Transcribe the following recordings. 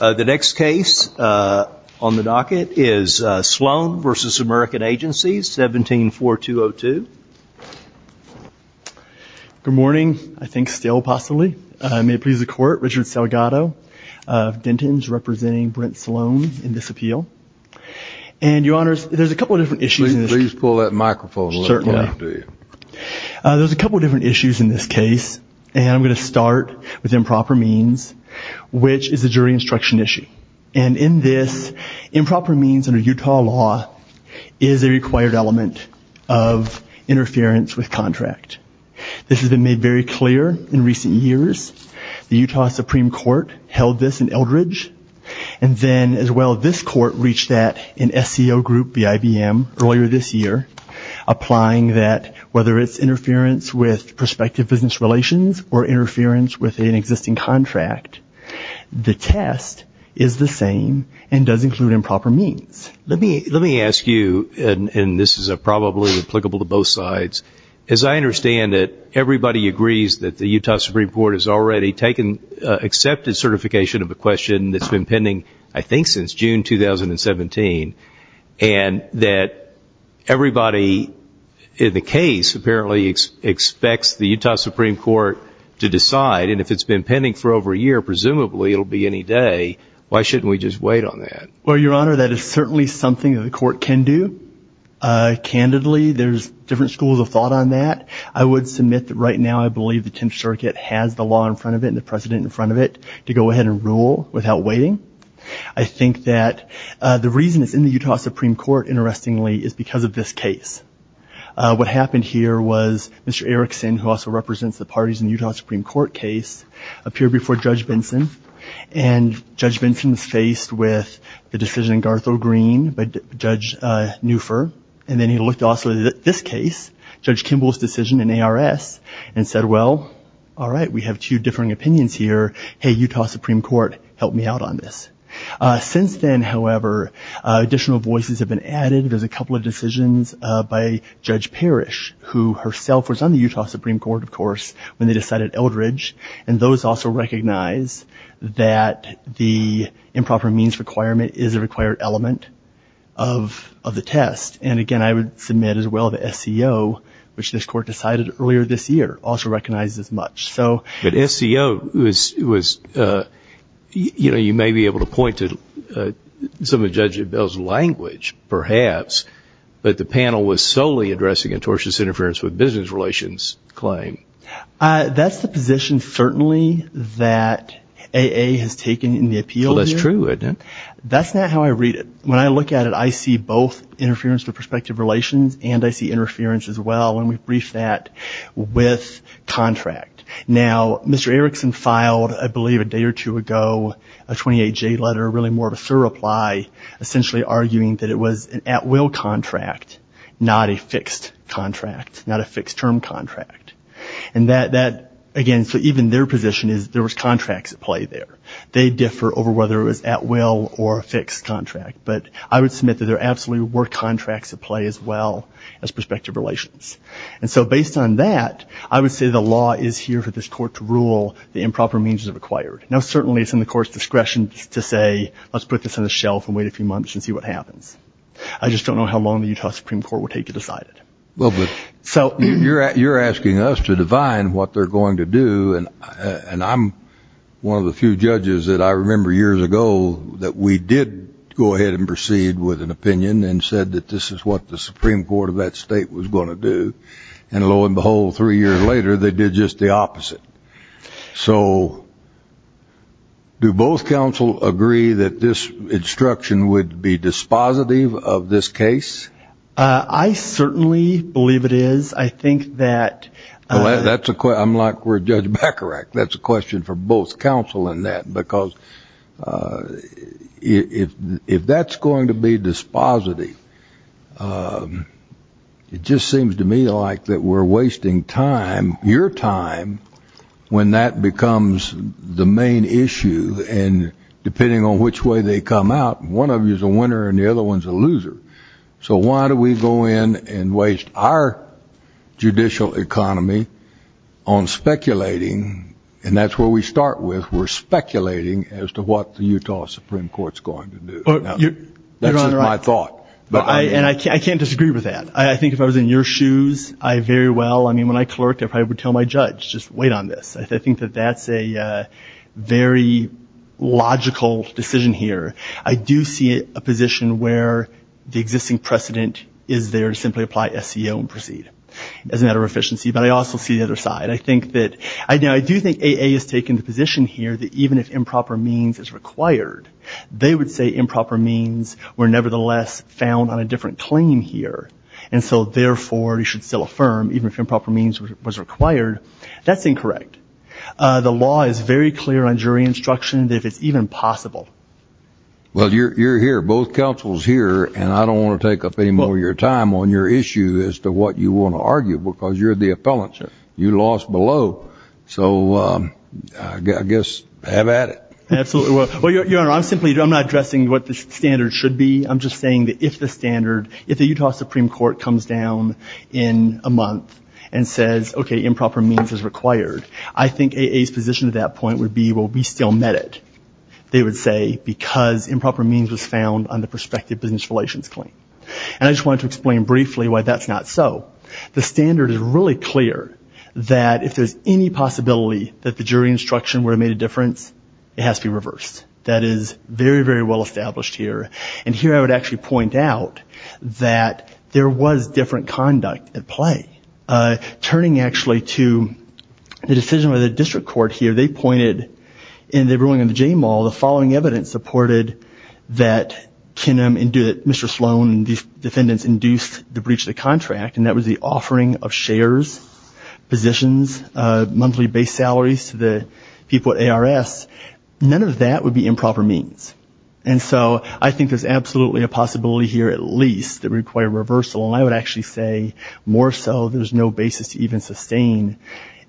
The next case on the docket is Sloan v. American Agencies, 17-4202. Good morning, I think still possibly. May it please the court, Richard Salgado of Denton's representing Brent Sloan in this appeal. And your honors, there's a couple of different issues in this case. Please pull that microphone a little closer to you. There's a couple of different issues in this case. And I'm going to start with improper means, which is a jury instruction issue. And in this, improper means under Utah law is a required element of interference with contract. This has been made very clear in recent years. The Utah Supreme Court held this in Eldridge. And then as well, this court reached that in SCO Group v. IBM earlier this year, applying that whether it's interference with prospective business relations or interference with an existing contract, the test is the same and does include improper means. Let me ask you, and this is probably applicable to both sides. As I understand it, everybody agrees that the Utah Supreme Court has already taken accepted certification of a question that's been pending, I think, since June 2017, and that everybody in the case apparently expects the Utah Supreme Court to decide. And if it's been pending for over a year, presumably it'll be any day. Why shouldn't we just wait on that? Well, your honor, that is certainly something that the court can do. Candidly, there's different schools of thought on that. I would submit that right now I believe the 10th Circuit has the law in front of it and the precedent in front of it to go ahead and rule without waiting. I think that the reason it's in the Utah Supreme Court, interestingly, is because of this case. What happened here was Mr. Erickson, who also represents the parties in the Utah Supreme Court case, appeared before Judge Benson, and Judge Benson was faced with the decision in Garthrow Green by Judge Neufer. And then he looked also at this case, Judge Kimball's decision in ARS, and said, well, all right, we have two differing opinions here. Hey, Utah Supreme Court, help me out on this. Since then, however, additional voices have been added. There's a couple of decisions by Judge Parrish, who herself was on the Utah Supreme Court, of course, when they decided Eldridge. And those also recognize that the improper means requirement is a required element of the test. And, again, I would submit as well that SCO, which this court decided earlier this year, also recognizes as much. But SCO was, you know, you may be able to point to some of Judge Bell's language, perhaps, but the panel was solely addressing a tortious interference with business relations claim. That's the position, certainly, that AA has taken in the appeal here. Well, that's true. That's not how I read it. When I look at it, I see both interference with prospective relations, and I see interference as well, and we've briefed that with contract. Now, Mr. Erickson filed, I believe, a day or two ago, a 28-J letter, really more of a thorough reply, essentially arguing that it was an at-will contract, not a fixed contract, not a fixed-term contract. And that, again, so even their position is there was contracts at play there. They differ over whether it was at-will or a fixed contract. But I would submit that there absolutely were contracts at play as well as prospective relations. And so based on that, I would say the law is here for this court to rule the improper means are required. Now, certainly it's in the court's discretion to say let's put this on the shelf and wait a few months and see what happens. I just don't know how long the Utah Supreme Court will take to decide it. Well, but you're asking us to divine what they're going to do, and I'm one of the few judges that I remember years ago that we did go ahead and proceed with an opinion and said that this is what the Supreme Court of that state was going to do. And lo and behold, three years later, they did just the opposite. So do both counsel agree that this instruction would be dispositive of this case? I certainly believe it is. I think that that's a question. I'm like where Judge Bacharach. That's a question for both counsel in that, because if that's going to be dispositive, it just seems to me like that we're wasting time, your time, when that becomes the main issue. And depending on which way they come out, one of you is a winner and the other one is a loser. So why do we go in and waste our judicial economy on speculating? And that's where we start with. We're speculating as to what the Utah Supreme Court is going to do. That's my thought. And I can't disagree with that. I think if I was in your shoes, I very well, I mean, when I clerked, I probably would tell my judge, just wait on this. I think that that's a very logical decision here. I do see a position where the existing precedent is there to simply apply SEO and proceed as a matter of efficiency. But I also see the other side. I think that I do think AA has taken the position here that even if improper means is required, they would say improper means were nevertheless found on a different claim here. And so, therefore, you should still affirm even if improper means was required. That's incorrect. The law is very clear on jury instruction that it's even possible. Well, you're here. Both counsels here. And I don't want to take up any more of your time on your issue as to what you want to argue because you're the appellant. You lost below. So I guess have at it. Absolutely. Well, Your Honor, I'm simply, I'm not addressing what the standard should be. I'm just saying that if the standard, if the Utah Supreme Court comes down in a month and says, okay, improper means is required, I think AA's position at that point would be, well, we still met it, they would say, because improper means was found on the prospective business relations claim. And I just wanted to explain briefly why that's not so. Well, the standard is really clear that if there's any possibility that the jury instruction would have made a difference, it has to be reversed. That is very, very well established here. And here I would actually point out that there was different conduct at play. Turning actually to the decision of the district court here, they pointed in the ruling of the Jaymal the following evidence supported that Mr. Sloan and these defendants induced the breach of the contract, and that was the offering of shares, positions, monthly base salaries to the people at ARS. None of that would be improper means. And so I think there's absolutely a possibility here at least that it would require reversal. And I would actually say more so there's no basis to even sustain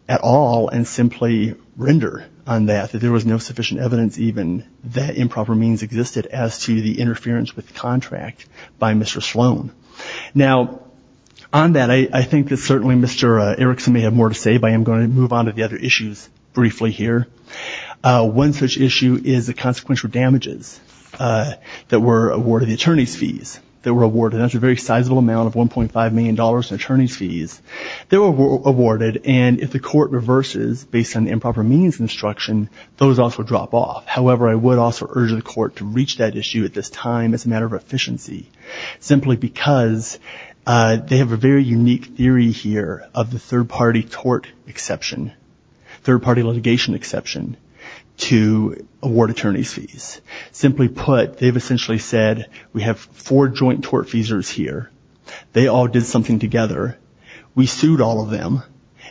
at all and simply render on that that there was no sufficient evidence even that improper means existed as to the interference with the contract by Mr. Sloan. Now, on that, I think that certainly Mr. Erickson may have more to say, but I am going to move on to the other issues briefly here. One such issue is the consequential damages that were awarded, the attorney's fees that were awarded. That's a very sizable amount of $1.5 million in attorney's fees that were awarded. And if the court reverses based on improper means instruction, those also drop off. However, I would also urge the court to reach that issue at this time as a matter of efficiency, simply because they have a very unique theory here of the third-party tort exception, third-party litigation exception to award attorney's fees. Simply put, they've essentially said we have four joint tort fees here. They all did something together. We sued all of them,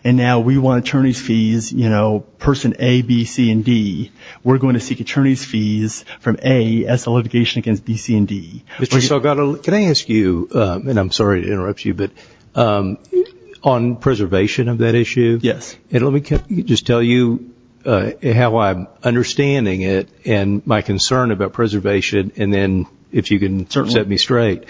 and now we want attorney's fees, you know, person A, B, C, and D. We're going to seek attorney's fees from A as to litigation against B, C, and D. Mr. Salgado, can I ask you, and I'm sorry to interrupt you, but on preservation of that issue? Yes. And let me just tell you how I'm understanding it and my concern about preservation, and then if you can set me straight.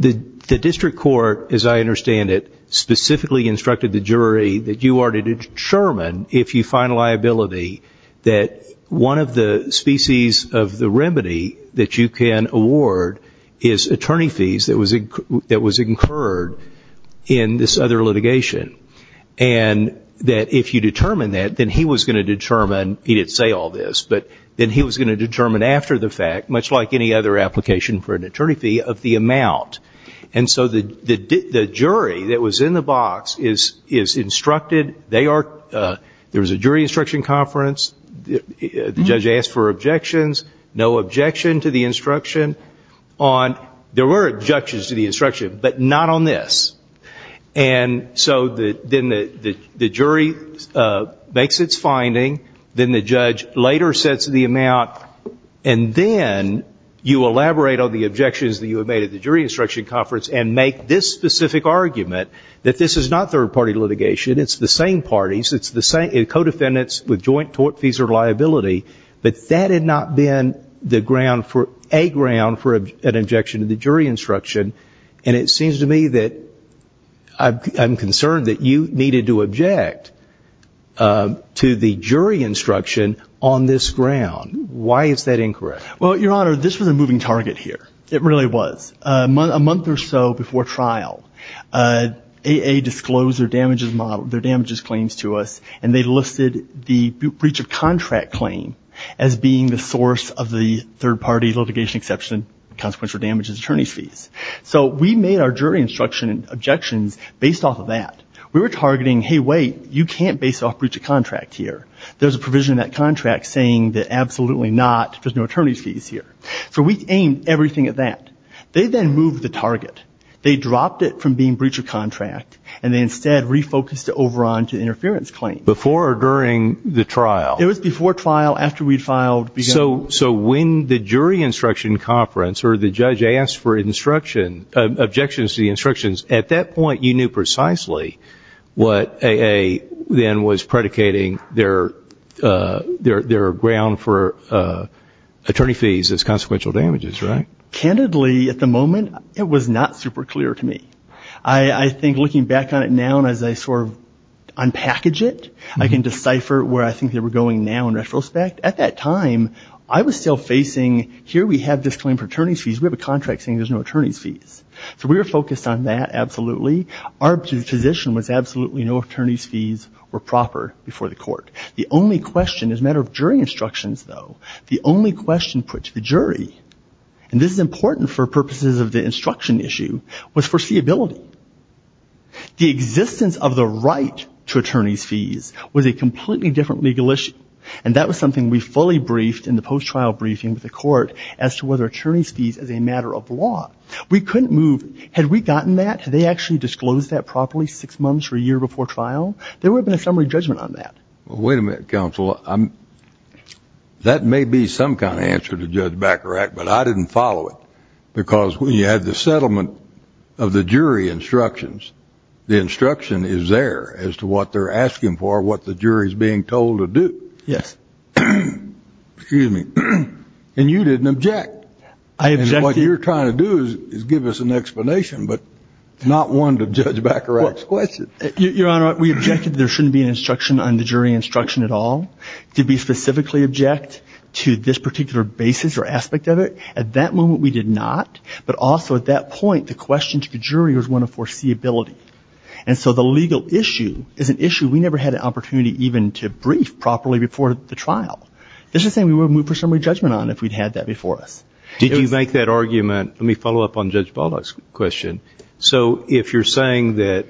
The district court, as I understand it, specifically instructed the jury that you are to determine, if you find liability, that one of the species of the remedy that you can award is attorney fees that was incurred in this other litigation. And that if you determine that, then he was going to determine, he didn't say all this, but then he was going to determine after the fact, much like any other application for an attorney fee, of the amount. And so the jury that was in the box is instructed. There was a jury instruction conference. The judge asked for objections, no objection to the instruction. There were objections to the instruction, but not on this. And so then the jury makes its finding. Then the judge later sets the amount, and then you elaborate on the objections that you had made at the jury instruction conference and make this specific argument that this is not third-party litigation, it's the same parties, it's the same co-defendants with joint fees or liability, but that had not been a ground for an objection to the jury instruction. And it seems to me that I'm concerned that you needed to object to the jury instruction on this ground. Why is that incorrect? Well, Your Honor, this was a moving target here. It really was. A month or so before trial, A.A. disclosed their damages model, their damages claims to us, and they listed the breach of contract claim as being the source of the third-party litigation exception, consequential damages, attorney's fees. So we made our jury instruction objections based off of that. We were targeting, hey, wait, you can't base off breach of contract here. There's a provision in that contract saying that absolutely not, there's no attorney's fees here. So we aimed everything at that. They then moved the target. They dropped it from being breach of contract, and they instead refocused it over onto interference claim. Before or during the trial? It was before trial, after we'd filed. So when the jury instruction conference or the judge asked for instruction, objections to the instructions, at that point you knew precisely what A.A. then was predicating their ground for attorney fees as consequential damages, right? Candidly, at the moment, it was not super clear to me. I think looking back on it now and as I sort of unpackage it, I can decipher where I think they were going now in retrospect. At that time, I was still facing, here we have this claim for attorney's fees. We have a contract saying there's no attorney's fees. So we were focused on that, absolutely. Our position was absolutely no attorney's fees were proper before the court. The only question, as a matter of jury instructions, though, the only question put to the jury, and this is important for purposes of the instruction issue, was foreseeability. The existence of the right to attorney's fees was a completely different legal issue, and that was something we fully briefed in the post-trial briefing with the court as to whether attorney's fees as a matter of law. We couldn't move. Had we gotten that? Had they actually disclosed that properly six months or a year before trial? There would have been a summary judgment on that. Wait a minute, counsel. That may be some kind of answer to Judge Bacharach, but I didn't follow it because when you had the settlement of the jury instructions, the instruction is there as to what they're asking for, what the jury is being told to do. Yes. Excuse me. And you didn't object. I objected. What you're trying to do is give us an explanation, but not one to Judge Bacharach's question. Your Honor, we objected that there shouldn't be an instruction on the jury instruction at all. To be specifically object to this particular basis or aspect of it, at that moment we did not, but also at that point the question to the jury was one of foreseeability. And so the legal issue is an issue we never had an opportunity even to brief properly before the trial. This is something we would have moved for summary judgment on if we'd had that before us. Did you make that argument? Let me follow up on Judge Bacharach's question. So if you're saying that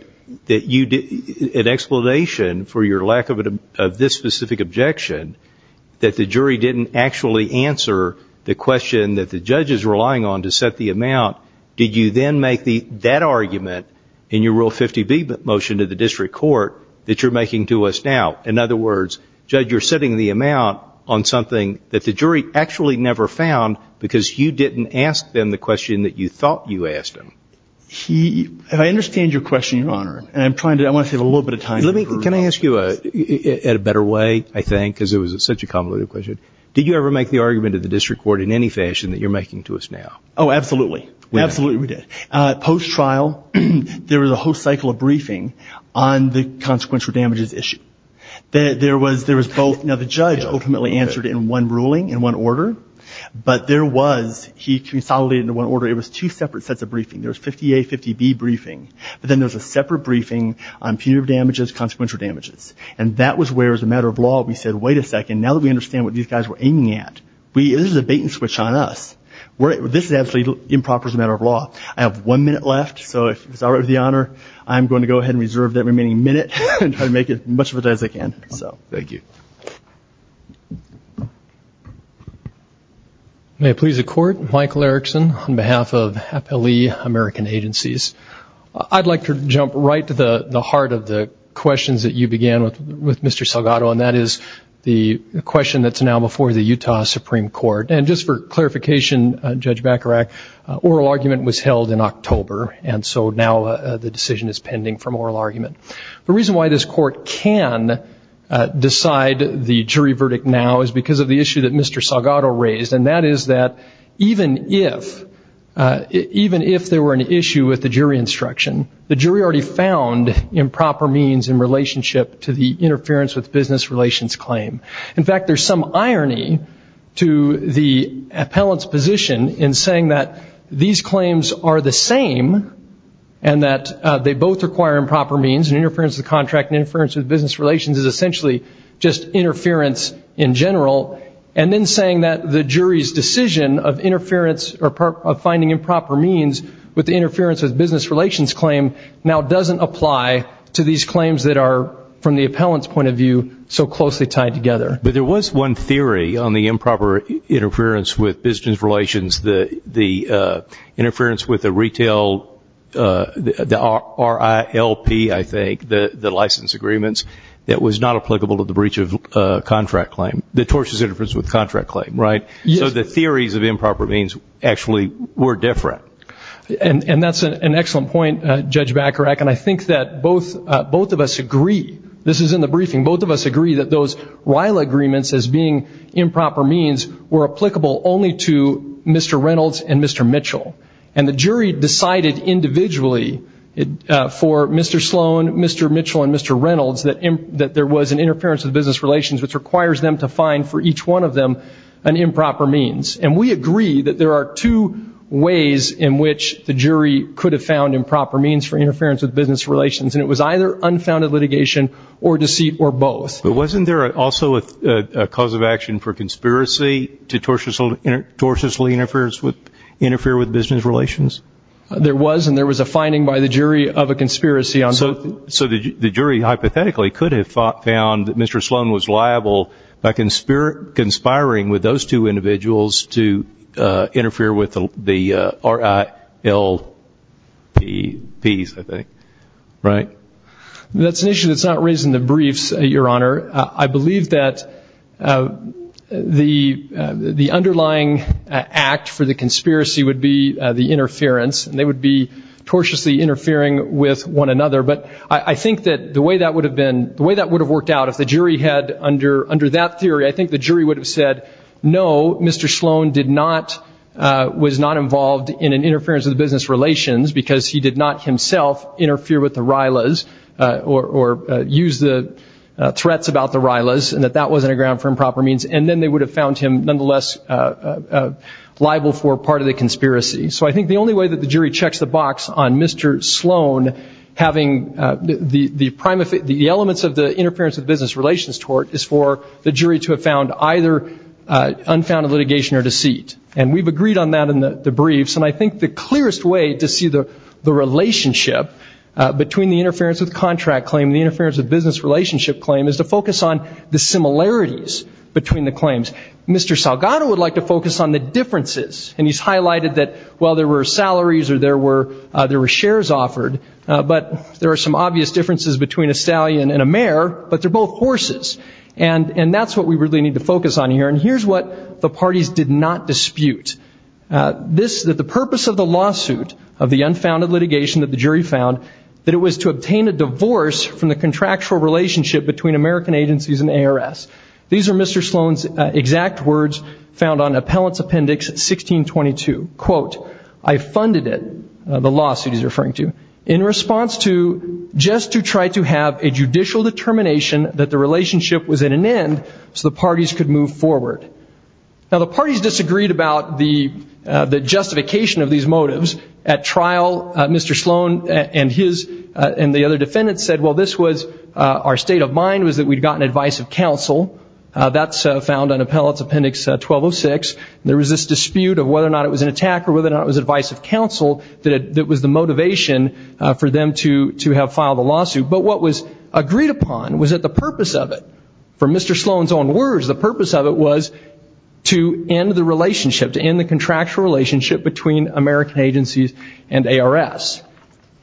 an explanation for your lack of this specific objection, that the jury didn't actually answer the question that the judge is relying on to set the amount, did you then make that argument in your Rule 50B motion to the district court that you're making to us now? In other words, Judge, you're setting the amount on something that the jury actually never found because you didn't ask them the question that you thought you asked them. If I understand your question, Your Honor, and I want to save a little bit of time. Can I ask you, in a better way, I think, because it was such a convoluted question, did you ever make the argument to the district court in any fashion that you're making to us now? Oh, absolutely. Absolutely we did. Post-trial, there was a whole cycle of briefing on the consequential damages issue. There was both. Now, the judge ultimately answered in one ruling, in one order. But there was, he consolidated into one order. It was two separate sets of briefing. There was 50A, 50B briefing. But then there was a separate briefing on punitive damages, consequential damages. And that was where, as a matter of law, we said, wait a second. Now that we understand what these guys were aiming at, this is a bait and switch on us. This is absolutely improper as a matter of law. I have one minute left. So if it's all right with the Honor, I'm going to go ahead and reserve that remaining minute and try to make as much of it as I can. Thank you. May it please the Court. Mike Larrickson on behalf of Appellee American Agencies. I'd like to jump right to the heart of the questions that you began with, Mr. Salgado, and that is the question that's now before the Utah Supreme Court. And just for clarification, Judge Bacharach, oral argument was held in October, and so now the decision is pending from oral argument. The reason why this Court can decide the jury verdict now is because of the issue that Mr. Salgado raised, and that is that even if there were an issue with the jury instruction, the jury already found improper means in relationship to the interference with business relations claim. In fact, there's some irony to the appellant's position in saying that these claims are the same and that they both require improper means, and interference with contract and interference with business relations is essentially just interference in general, and then saying that the jury's decision of finding improper means with the interference with business relations claim now doesn't apply to these claims that are, from the appellant's point of view, so closely tied together. But there was one theory on the improper interference with business relations, the interference with the retail, the RILP, I think, the license agreements, that was not applicable to the breach of contract claim, the tortious interference with contract claim, right? Yes. So the theories of improper means actually were different. And that's an excellent point, Judge Bacharach, and I think that both of us agree, this is in the briefing, both of us agree that those RILA agreements as being improper means were applicable only to Mr. Reynolds and Mr. Mitchell. And the jury decided individually for Mr. Sloan, Mr. Mitchell, and Mr. Reynolds, that there was an interference with business relations which requires them to find for each one of them an improper means. And we agree that there are two ways in which the jury could have found improper means for interference with business relations, and it was either unfounded litigation or deceit or both. But wasn't there also a cause of action for conspiracy to tortiously interfere with business relations? There was, and there was a finding by the jury of a conspiracy on both. That's an issue that's not raised in the briefs, Your Honor. I believe that the underlying act for the conspiracy would be the interference, and they would be tortiously interfering with one another. But I think that the way that would have been, the way that would have worked out if the jury had under that theory, I think the jury would have said, no, Mr. Sloan was not involved in an interference with business relations because he did not himself interfere with the RILAs or use the threats about the RILAs, and that that wasn't a ground for improper means. And then they would have found him nonetheless liable for part of the conspiracy. So I think the only way that the jury checks the box on Mr. Sloan having the elements of the interference with business relations tort is for the jury to have found either unfounded litigation or deceit. And we've agreed on that in the briefs. And I think the clearest way to see the relationship between the interference with contract claim and the interference with business relationship claim is to focus on the similarities between the claims. Mr. Salgado would like to focus on the differences. And he's highlighted that while there were salaries or there were shares offered, but there are some obvious differences between a stallion and a mare, but they're both horses. And that's what we really need to focus on here. And here's what the parties did not dispute. The purpose of the lawsuit of the unfounded litigation that the jury found, that it was to obtain a divorce from the contractual relationship between American agencies and ARS. These are Mr. Sloan's exact words found on Appellant's Appendix 1622. Quote, I funded it, the lawsuit he's referring to, in response to just to try to have a judicial determination that the relationship was at an end so the parties could move forward. Now, the parties disagreed about the justification of these motives. At trial, Mr. Sloan and the other defendants said, well, this was our state of mind, was that we'd gotten advice of counsel. That's found on Appellant's Appendix 1206. There was this dispute of whether or not it was an attack or whether or not it was advice of counsel that was the motivation for them to have filed the lawsuit. But what was agreed upon was that the purpose of it, for Mr. Sloan's own words, the purpose of it was to end the relationship, to end the contractual relationship between American agencies and ARS.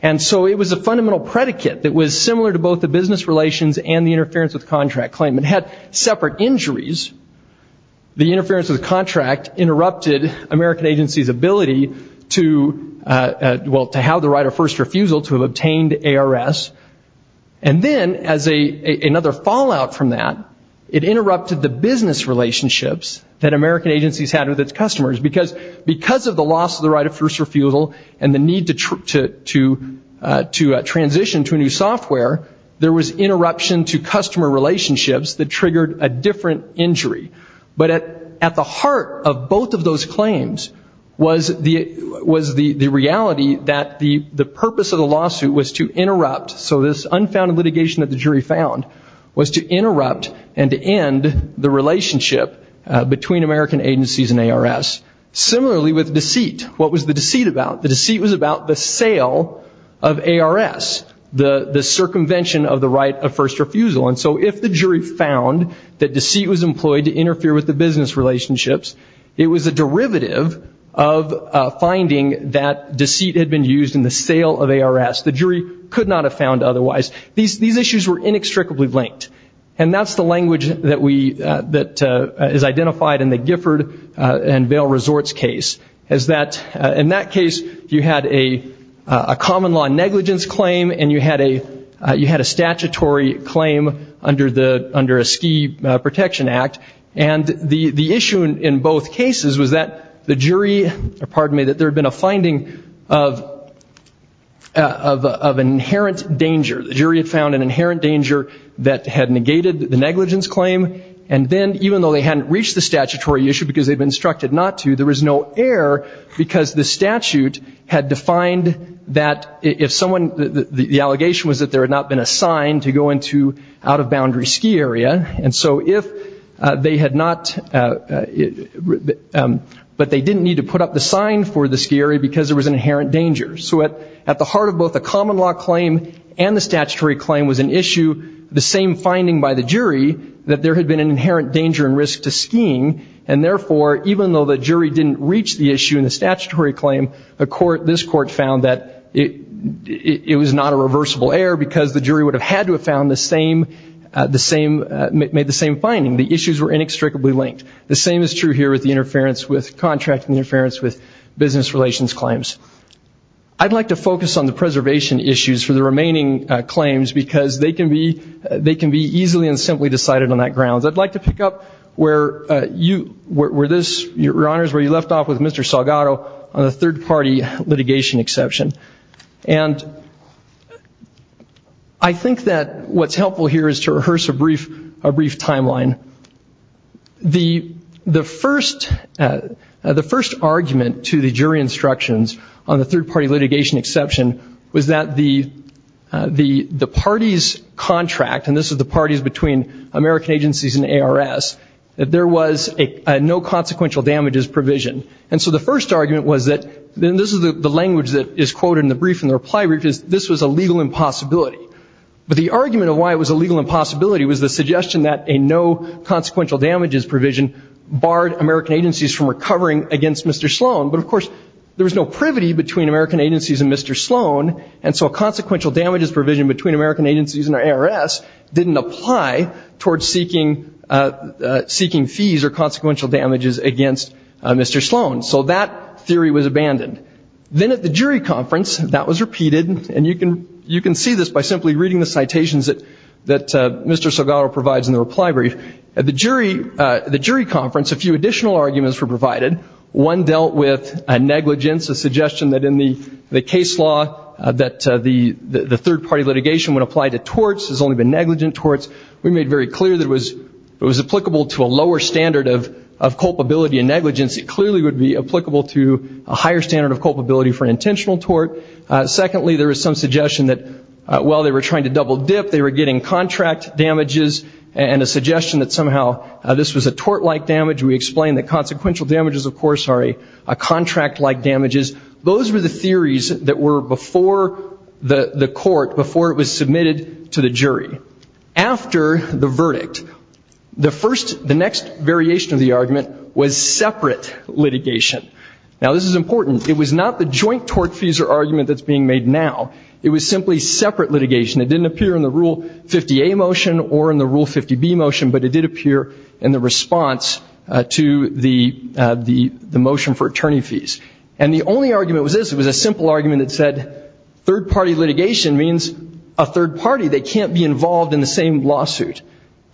And so it was a fundamental predicate that was similar to both the business relations and the interference with contract claim. It had separate injuries. The interference with the contract interrupted American agencies' ability to, well, to have the right of first refusal to have obtained ARS. And then, as another fallout from that, it interrupted the business relationships that American agencies had with its customers. Because of the loss of the right of first refusal and the need to transition to a new software, there was interruption to customer relationships that triggered a different injury. But at the heart of both of those claims was the reality that the purpose of the lawsuit was to interrupt. So this unfounded litigation that the jury found was to interrupt and to end the relationship between American agencies and ARS. Similarly with deceit. What was the deceit about? The deceit was about the sale of ARS, the circumvention of the right of first refusal. And so if the jury found that deceit was employed to interfere with the business relationships, it was a derivative of finding that deceit had been used in the sale of ARS. The jury could not have found otherwise. These issues were inextricably linked. And that's the language that is identified in the Gifford and Vail Resorts case. In that case, you had a common law negligence claim and you had a statutory claim under a Ski Protection Act. And the issue in both cases was that the jury, pardon me, that there had been a finding of an inherent danger. The jury had found an inherent danger that had negated the negligence claim. And then even though they hadn't reached the statutory issue because they'd been instructed not to, there was no error because the statute had defined that if someone, the allegation was that there had not been a sign to go into out-of-boundary ski area. And so if they had not, but they didn't need to put up the sign for the ski area because there was an inherent danger. So at the heart of both the common law claim and the statutory claim was an issue, the same finding by the jury that there had been an inherent danger and risk to skiing. And therefore, even though the jury didn't reach the issue in the statutory claim, this court found that it was not a reversible error because the jury would have had to have found the same, made the same finding. The issues were inextricably linked. The same is true here with the interference, with contract interference, with business relations claims. I'd like to focus on the preservation issues for the remaining claims because they can be easily and simply decided on that grounds. I'd like to pick up where you, where this, Your Honors, where you left off with Mr. Salgado on the third-party litigation exception. And I think that what's helpful here is to rehearse a brief timeline. The first argument to the jury instructions on the third-party litigation exception was that the parties' contract, and this is the parties between American agencies and ARS, that there was a no consequential damages provision. And so the first argument was that, and this is the language that is quoted in the brief in the reply brief, is this was a legal impossibility. But the argument of why it was a legal impossibility was the suggestion that a no consequential damages provision barred American agencies from recovering against Mr. Sloan. But, of course, there was no privity between American agencies and Mr. Sloan, and so a consequential damages provision between American agencies and ARS didn't apply towards seeking fees or consequential damages against Mr. Sloan. So that theory was abandoned. Then at the jury conference, that was repeated, and you can see this by simply reading the citations that Mr. Salgado provides in the reply brief. At the jury conference, a few additional arguments were provided. One dealt with negligence, a suggestion that in the case law that the third-party litigation would apply to torts, has only been negligent torts. We made very clear that it was applicable to a lower standard of culpability and negligence. It clearly would be applicable to a higher standard of culpability for an intentional tort. Secondly, there was some suggestion that while they were trying to double-dip, they were getting contract damages, and a suggestion that somehow this was a tort-like damage. We explained that consequential damages, of course, are contract-like damages. Those were the theories that were before the court, before it was submitted to the jury. After the verdict, the first, the next variation of the argument was separate litigation. Now, this is important. It was not the joint tort fees or argument that's being made now. It was simply separate litigation. It didn't appear in the Rule 50A motion or in the Rule 50B motion, but it did appear in the response to the motion for attorney fees. And the only argument was this. It was a simple argument that said third-party litigation means a third party. They can't be involved in the same lawsuit.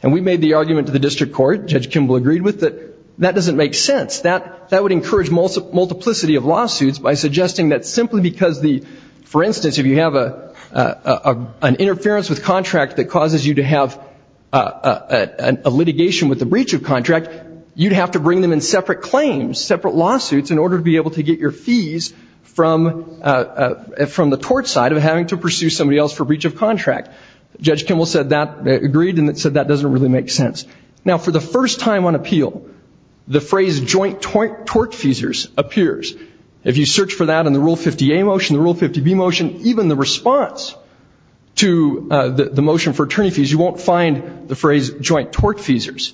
And we made the argument to the district court, Judge Kimball agreed with, that that doesn't make sense. That would encourage multiplicity of lawsuits by suggesting that simply because the, for instance, if you have an interference with contract that causes you to have a litigation with the breach of contract, you'd have to bring them in separate claims, separate lawsuits, in order to be able to get your fees from the tort side of having to pursue somebody else for breach of contract. Judge Kimball said that, agreed, and said that doesn't really make sense. Now, for the first time on appeal, the phrase joint tort fees appears. If you search for that in the Rule 50A motion, the Rule 50B motion, even the response to the motion for attorney fees, you won't find the phrase joint tort feesers.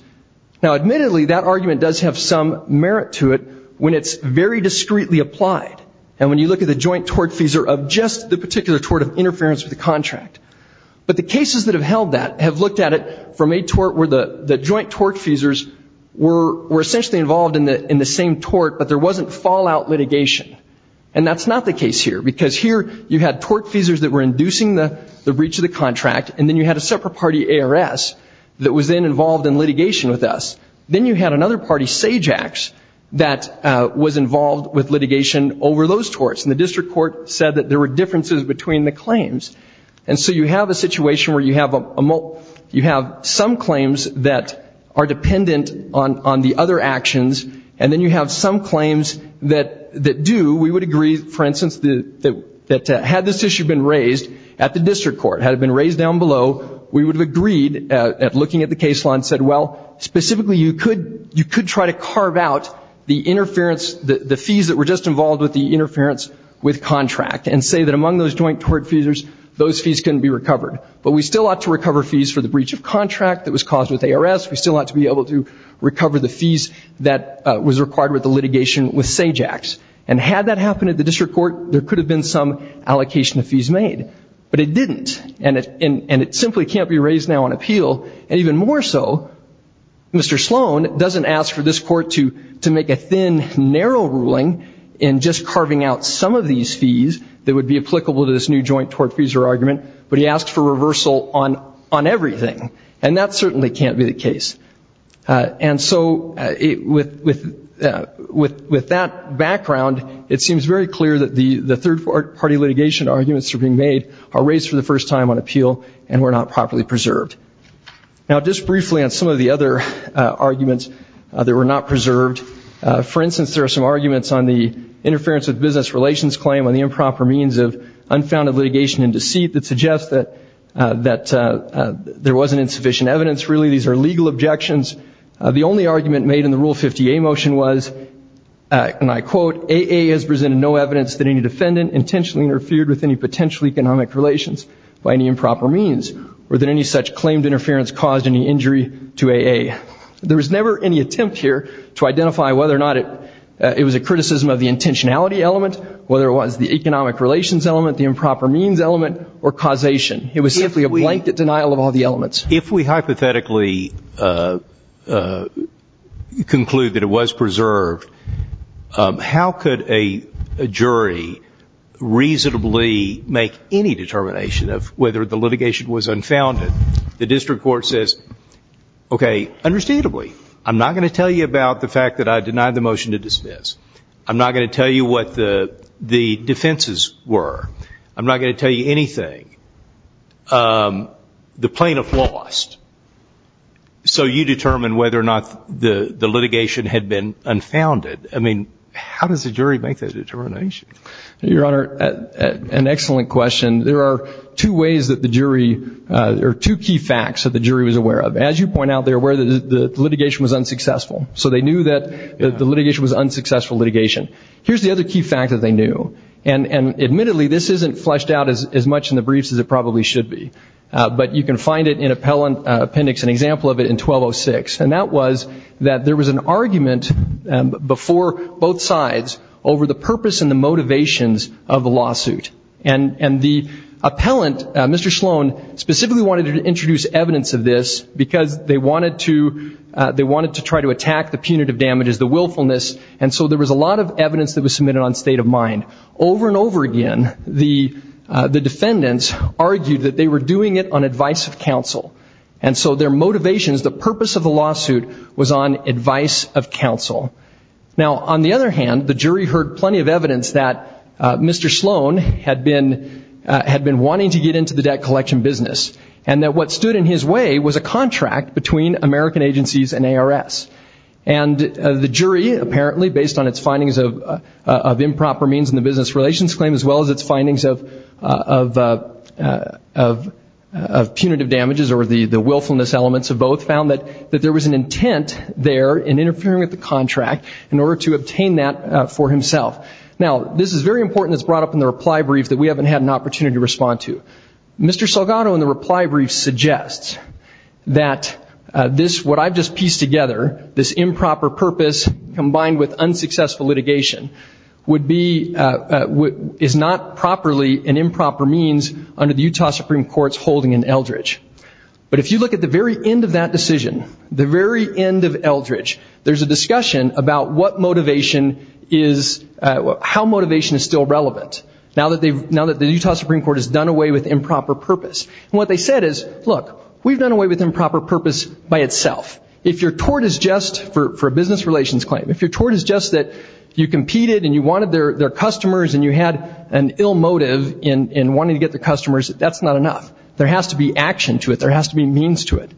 Now, admittedly, that argument does have some merit to it when it's very discreetly applied. And when you look at the joint tort feeser of just the particular tort of interference with the contract. But the cases that have held that have looked at it from a tort where the joint tort feesers were essentially involved in the same tort, but there wasn't fallout litigation. And that's not the case here. Because here you had tort feesers that were inducing the breach of the contract, and then you had a separate party ARS that was then involved in litigation with us. Then you had another party, SAGEX, that was involved with litigation over those torts. And the district court said that there were differences between the claims. And so you have a situation where you have some claims that are dependent on the other actions, and then you have some claims that do. We would agree, for instance, that had this issue been raised at the district court, had it been raised down below, we would have agreed at looking at the case law and said, well, specifically, you could try to carve out the interference, the fees that were just involved with the interference with contract and say that among those joint tort feesers, those fees couldn't be recovered. But we still ought to recover fees for the breach of contract that was caused with ARS. We still ought to be able to recover the fees that was required with the litigation with SAGEX. And had that happened at the district court, there could have been some allocation of fees made. But it didn't. And it simply can't be raised now on appeal. And even more so, Mr. Sloan doesn't ask for this court to make a thin, narrow ruling in just carving out some of these fees that would be applicable to this new joint tort-feeser argument, but he asks for reversal on everything. And that certainly can't be the case. And so with that background, it seems very clear that the third-party litigation arguments that are being made are raised for the first time on appeal and were not properly preserved. Now, just briefly on some of the other arguments that were not preserved, for instance, there are some arguments on the interference with business relations claim on the improper means of unfounded litigation and deceit that suggests that there wasn't insufficient evidence, really. These are legal objections. The only argument made in the Rule 50A motion was, and I quote, AA has presented no evidence that any defendant intentionally interfered with any potential economic relations by any improper means or that any such claimed interference caused any injury to AA. There was never any attempt here to identify whether or not it was a criticism of the intentionality element, whether it was the economic relations element, the improper means element, or causation. It was simply a blanket denial of all the elements. If we hypothetically conclude that it was preserved, how could a jury reasonably make any determination of whether the litigation was unfounded? The district court says, okay, understandably, I'm not going to tell you about the fact that I denied the motion to dismiss. I'm not going to tell you what the defenses were. I'm not going to tell you anything. The plaintiff lost. So you determine whether or not the litigation had been unfounded. I mean, how does a jury make that determination? Your Honor, an excellent question. There are two ways that the jury or two key facts that the jury was aware of. As you point out, they were aware that the litigation was unsuccessful. So they knew that the litigation was unsuccessful litigation. Here's the other key fact that they knew. And admittedly, this isn't fleshed out as much in the briefs as it probably should be. But you can find it in appendix, an example of it, in 1206. And that was that there was an argument before both sides over the purpose and the motivations of the lawsuit. And the appellant, Mr. Sloan, specifically wanted to introduce evidence of this because they wanted to try to attack the punitive damages, the willfulness. And so there was a lot of evidence that was submitted on state of mind. Over and over again, the defendants argued that they were doing it on advice of counsel. And so their motivations, the purpose of the lawsuit was on advice of counsel. Now, on the other hand, the jury heard plenty of evidence that Mr. Sloan had been wanting to get into the debt collection business. And that what stood in his way was a contract between American agencies and ARS. And the jury, apparently, based on its findings of improper means in the business relations claim, as well as its findings of punitive damages or the willfulness elements of both, found that there was an intent there in interfering with the contract in order to obtain that for himself. Now, this is very important. It's brought up in the reply brief that we haven't had an opportunity to respond to. Mr. Salgado, in the reply brief, suggests that what I've just pieced together, this improper purpose combined with unsuccessful litigation, is not properly an improper means under the Utah Supreme Court's holding in Eldridge. But if you look at the very end of that decision, the very end of Eldridge, there's a discussion about how motivation is still relevant, now that the Utah Supreme Court has done away with improper purpose. And what they said is, look, we've done away with improper purpose by itself. If your tort is just for a business relations claim, if your tort is just that you competed and you wanted their customers and you had an ill motive in wanting to get their customers, that's not enough. There has to be action to it. There has to be means to it.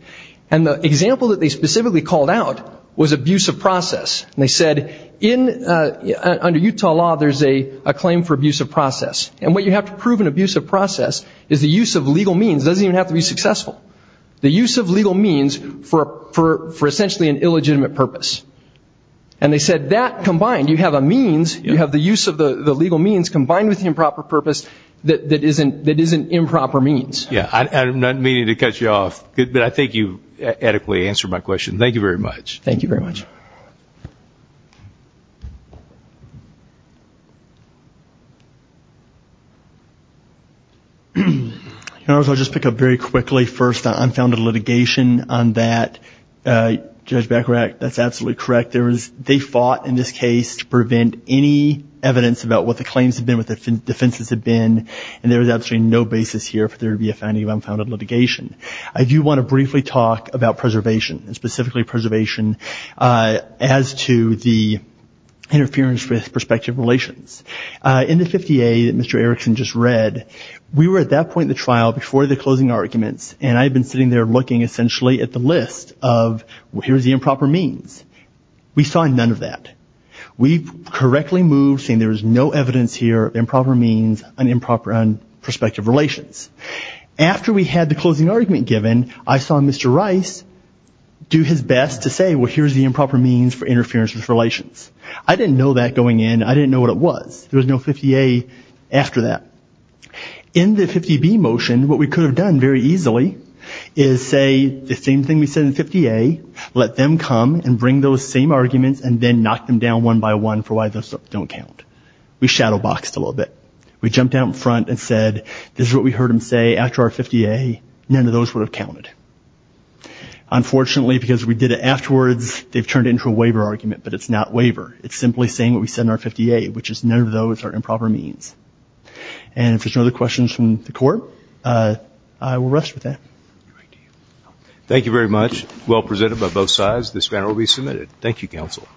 And the example that they specifically called out was abuse of process. And they said, under Utah law, there's a claim for abuse of process. And what you have to prove in abuse of process is the use of legal means. It doesn't even have to be successful. The use of legal means for essentially an illegitimate purpose. And they said that combined, you have a means, you have the use of the legal means combined with the improper purpose that is an improper means. Yeah. I'm not meaning to cut you off, but I think you adequately answered my question. Thank you very much. Thank you very much. I'll just pick up very quickly first on unfounded litigation on that. Judge Becker, that's absolutely correct. They fought in this case to prevent any evidence about what the claims have been, what the defenses have been, and there is absolutely no basis here for there to be a finding of unfounded litigation. I do want to briefly talk about preservation, and specifically preservation as to the interference with perspective relations. In the 50A that Mr. Erickson just read, we were at that point in the trial, before the closing arguments, and I had been sitting there looking essentially at the list of, well, here's the improper means. We saw none of that. We correctly moved saying there was no evidence here, improper means, and improper perspective relations. After we had the closing argument given, I saw Mr. Rice do his best to say, well, here's the improper means for interference with relations. I didn't know that going in. I didn't know what it was. There was no 50A after that. In the 50B motion, what we could have done very easily is say the same thing we said in 50A, let them come and bring those same arguments and then knock them down one by one for why those don't count. We shadowboxed a little bit. We jumped out in front and said, this is what we heard them say after our 50A. None of those would have counted. Unfortunately, because we did it afterwards, they've turned it into a waiver argument, but it's not waiver. It's simply saying what we said in our 50A, which is none of those are improper means. And if there's no other questions from the Court, I will rest with that. Thank you very much. Well presented by both sides. This matter will be submitted. Thank you, Counsel.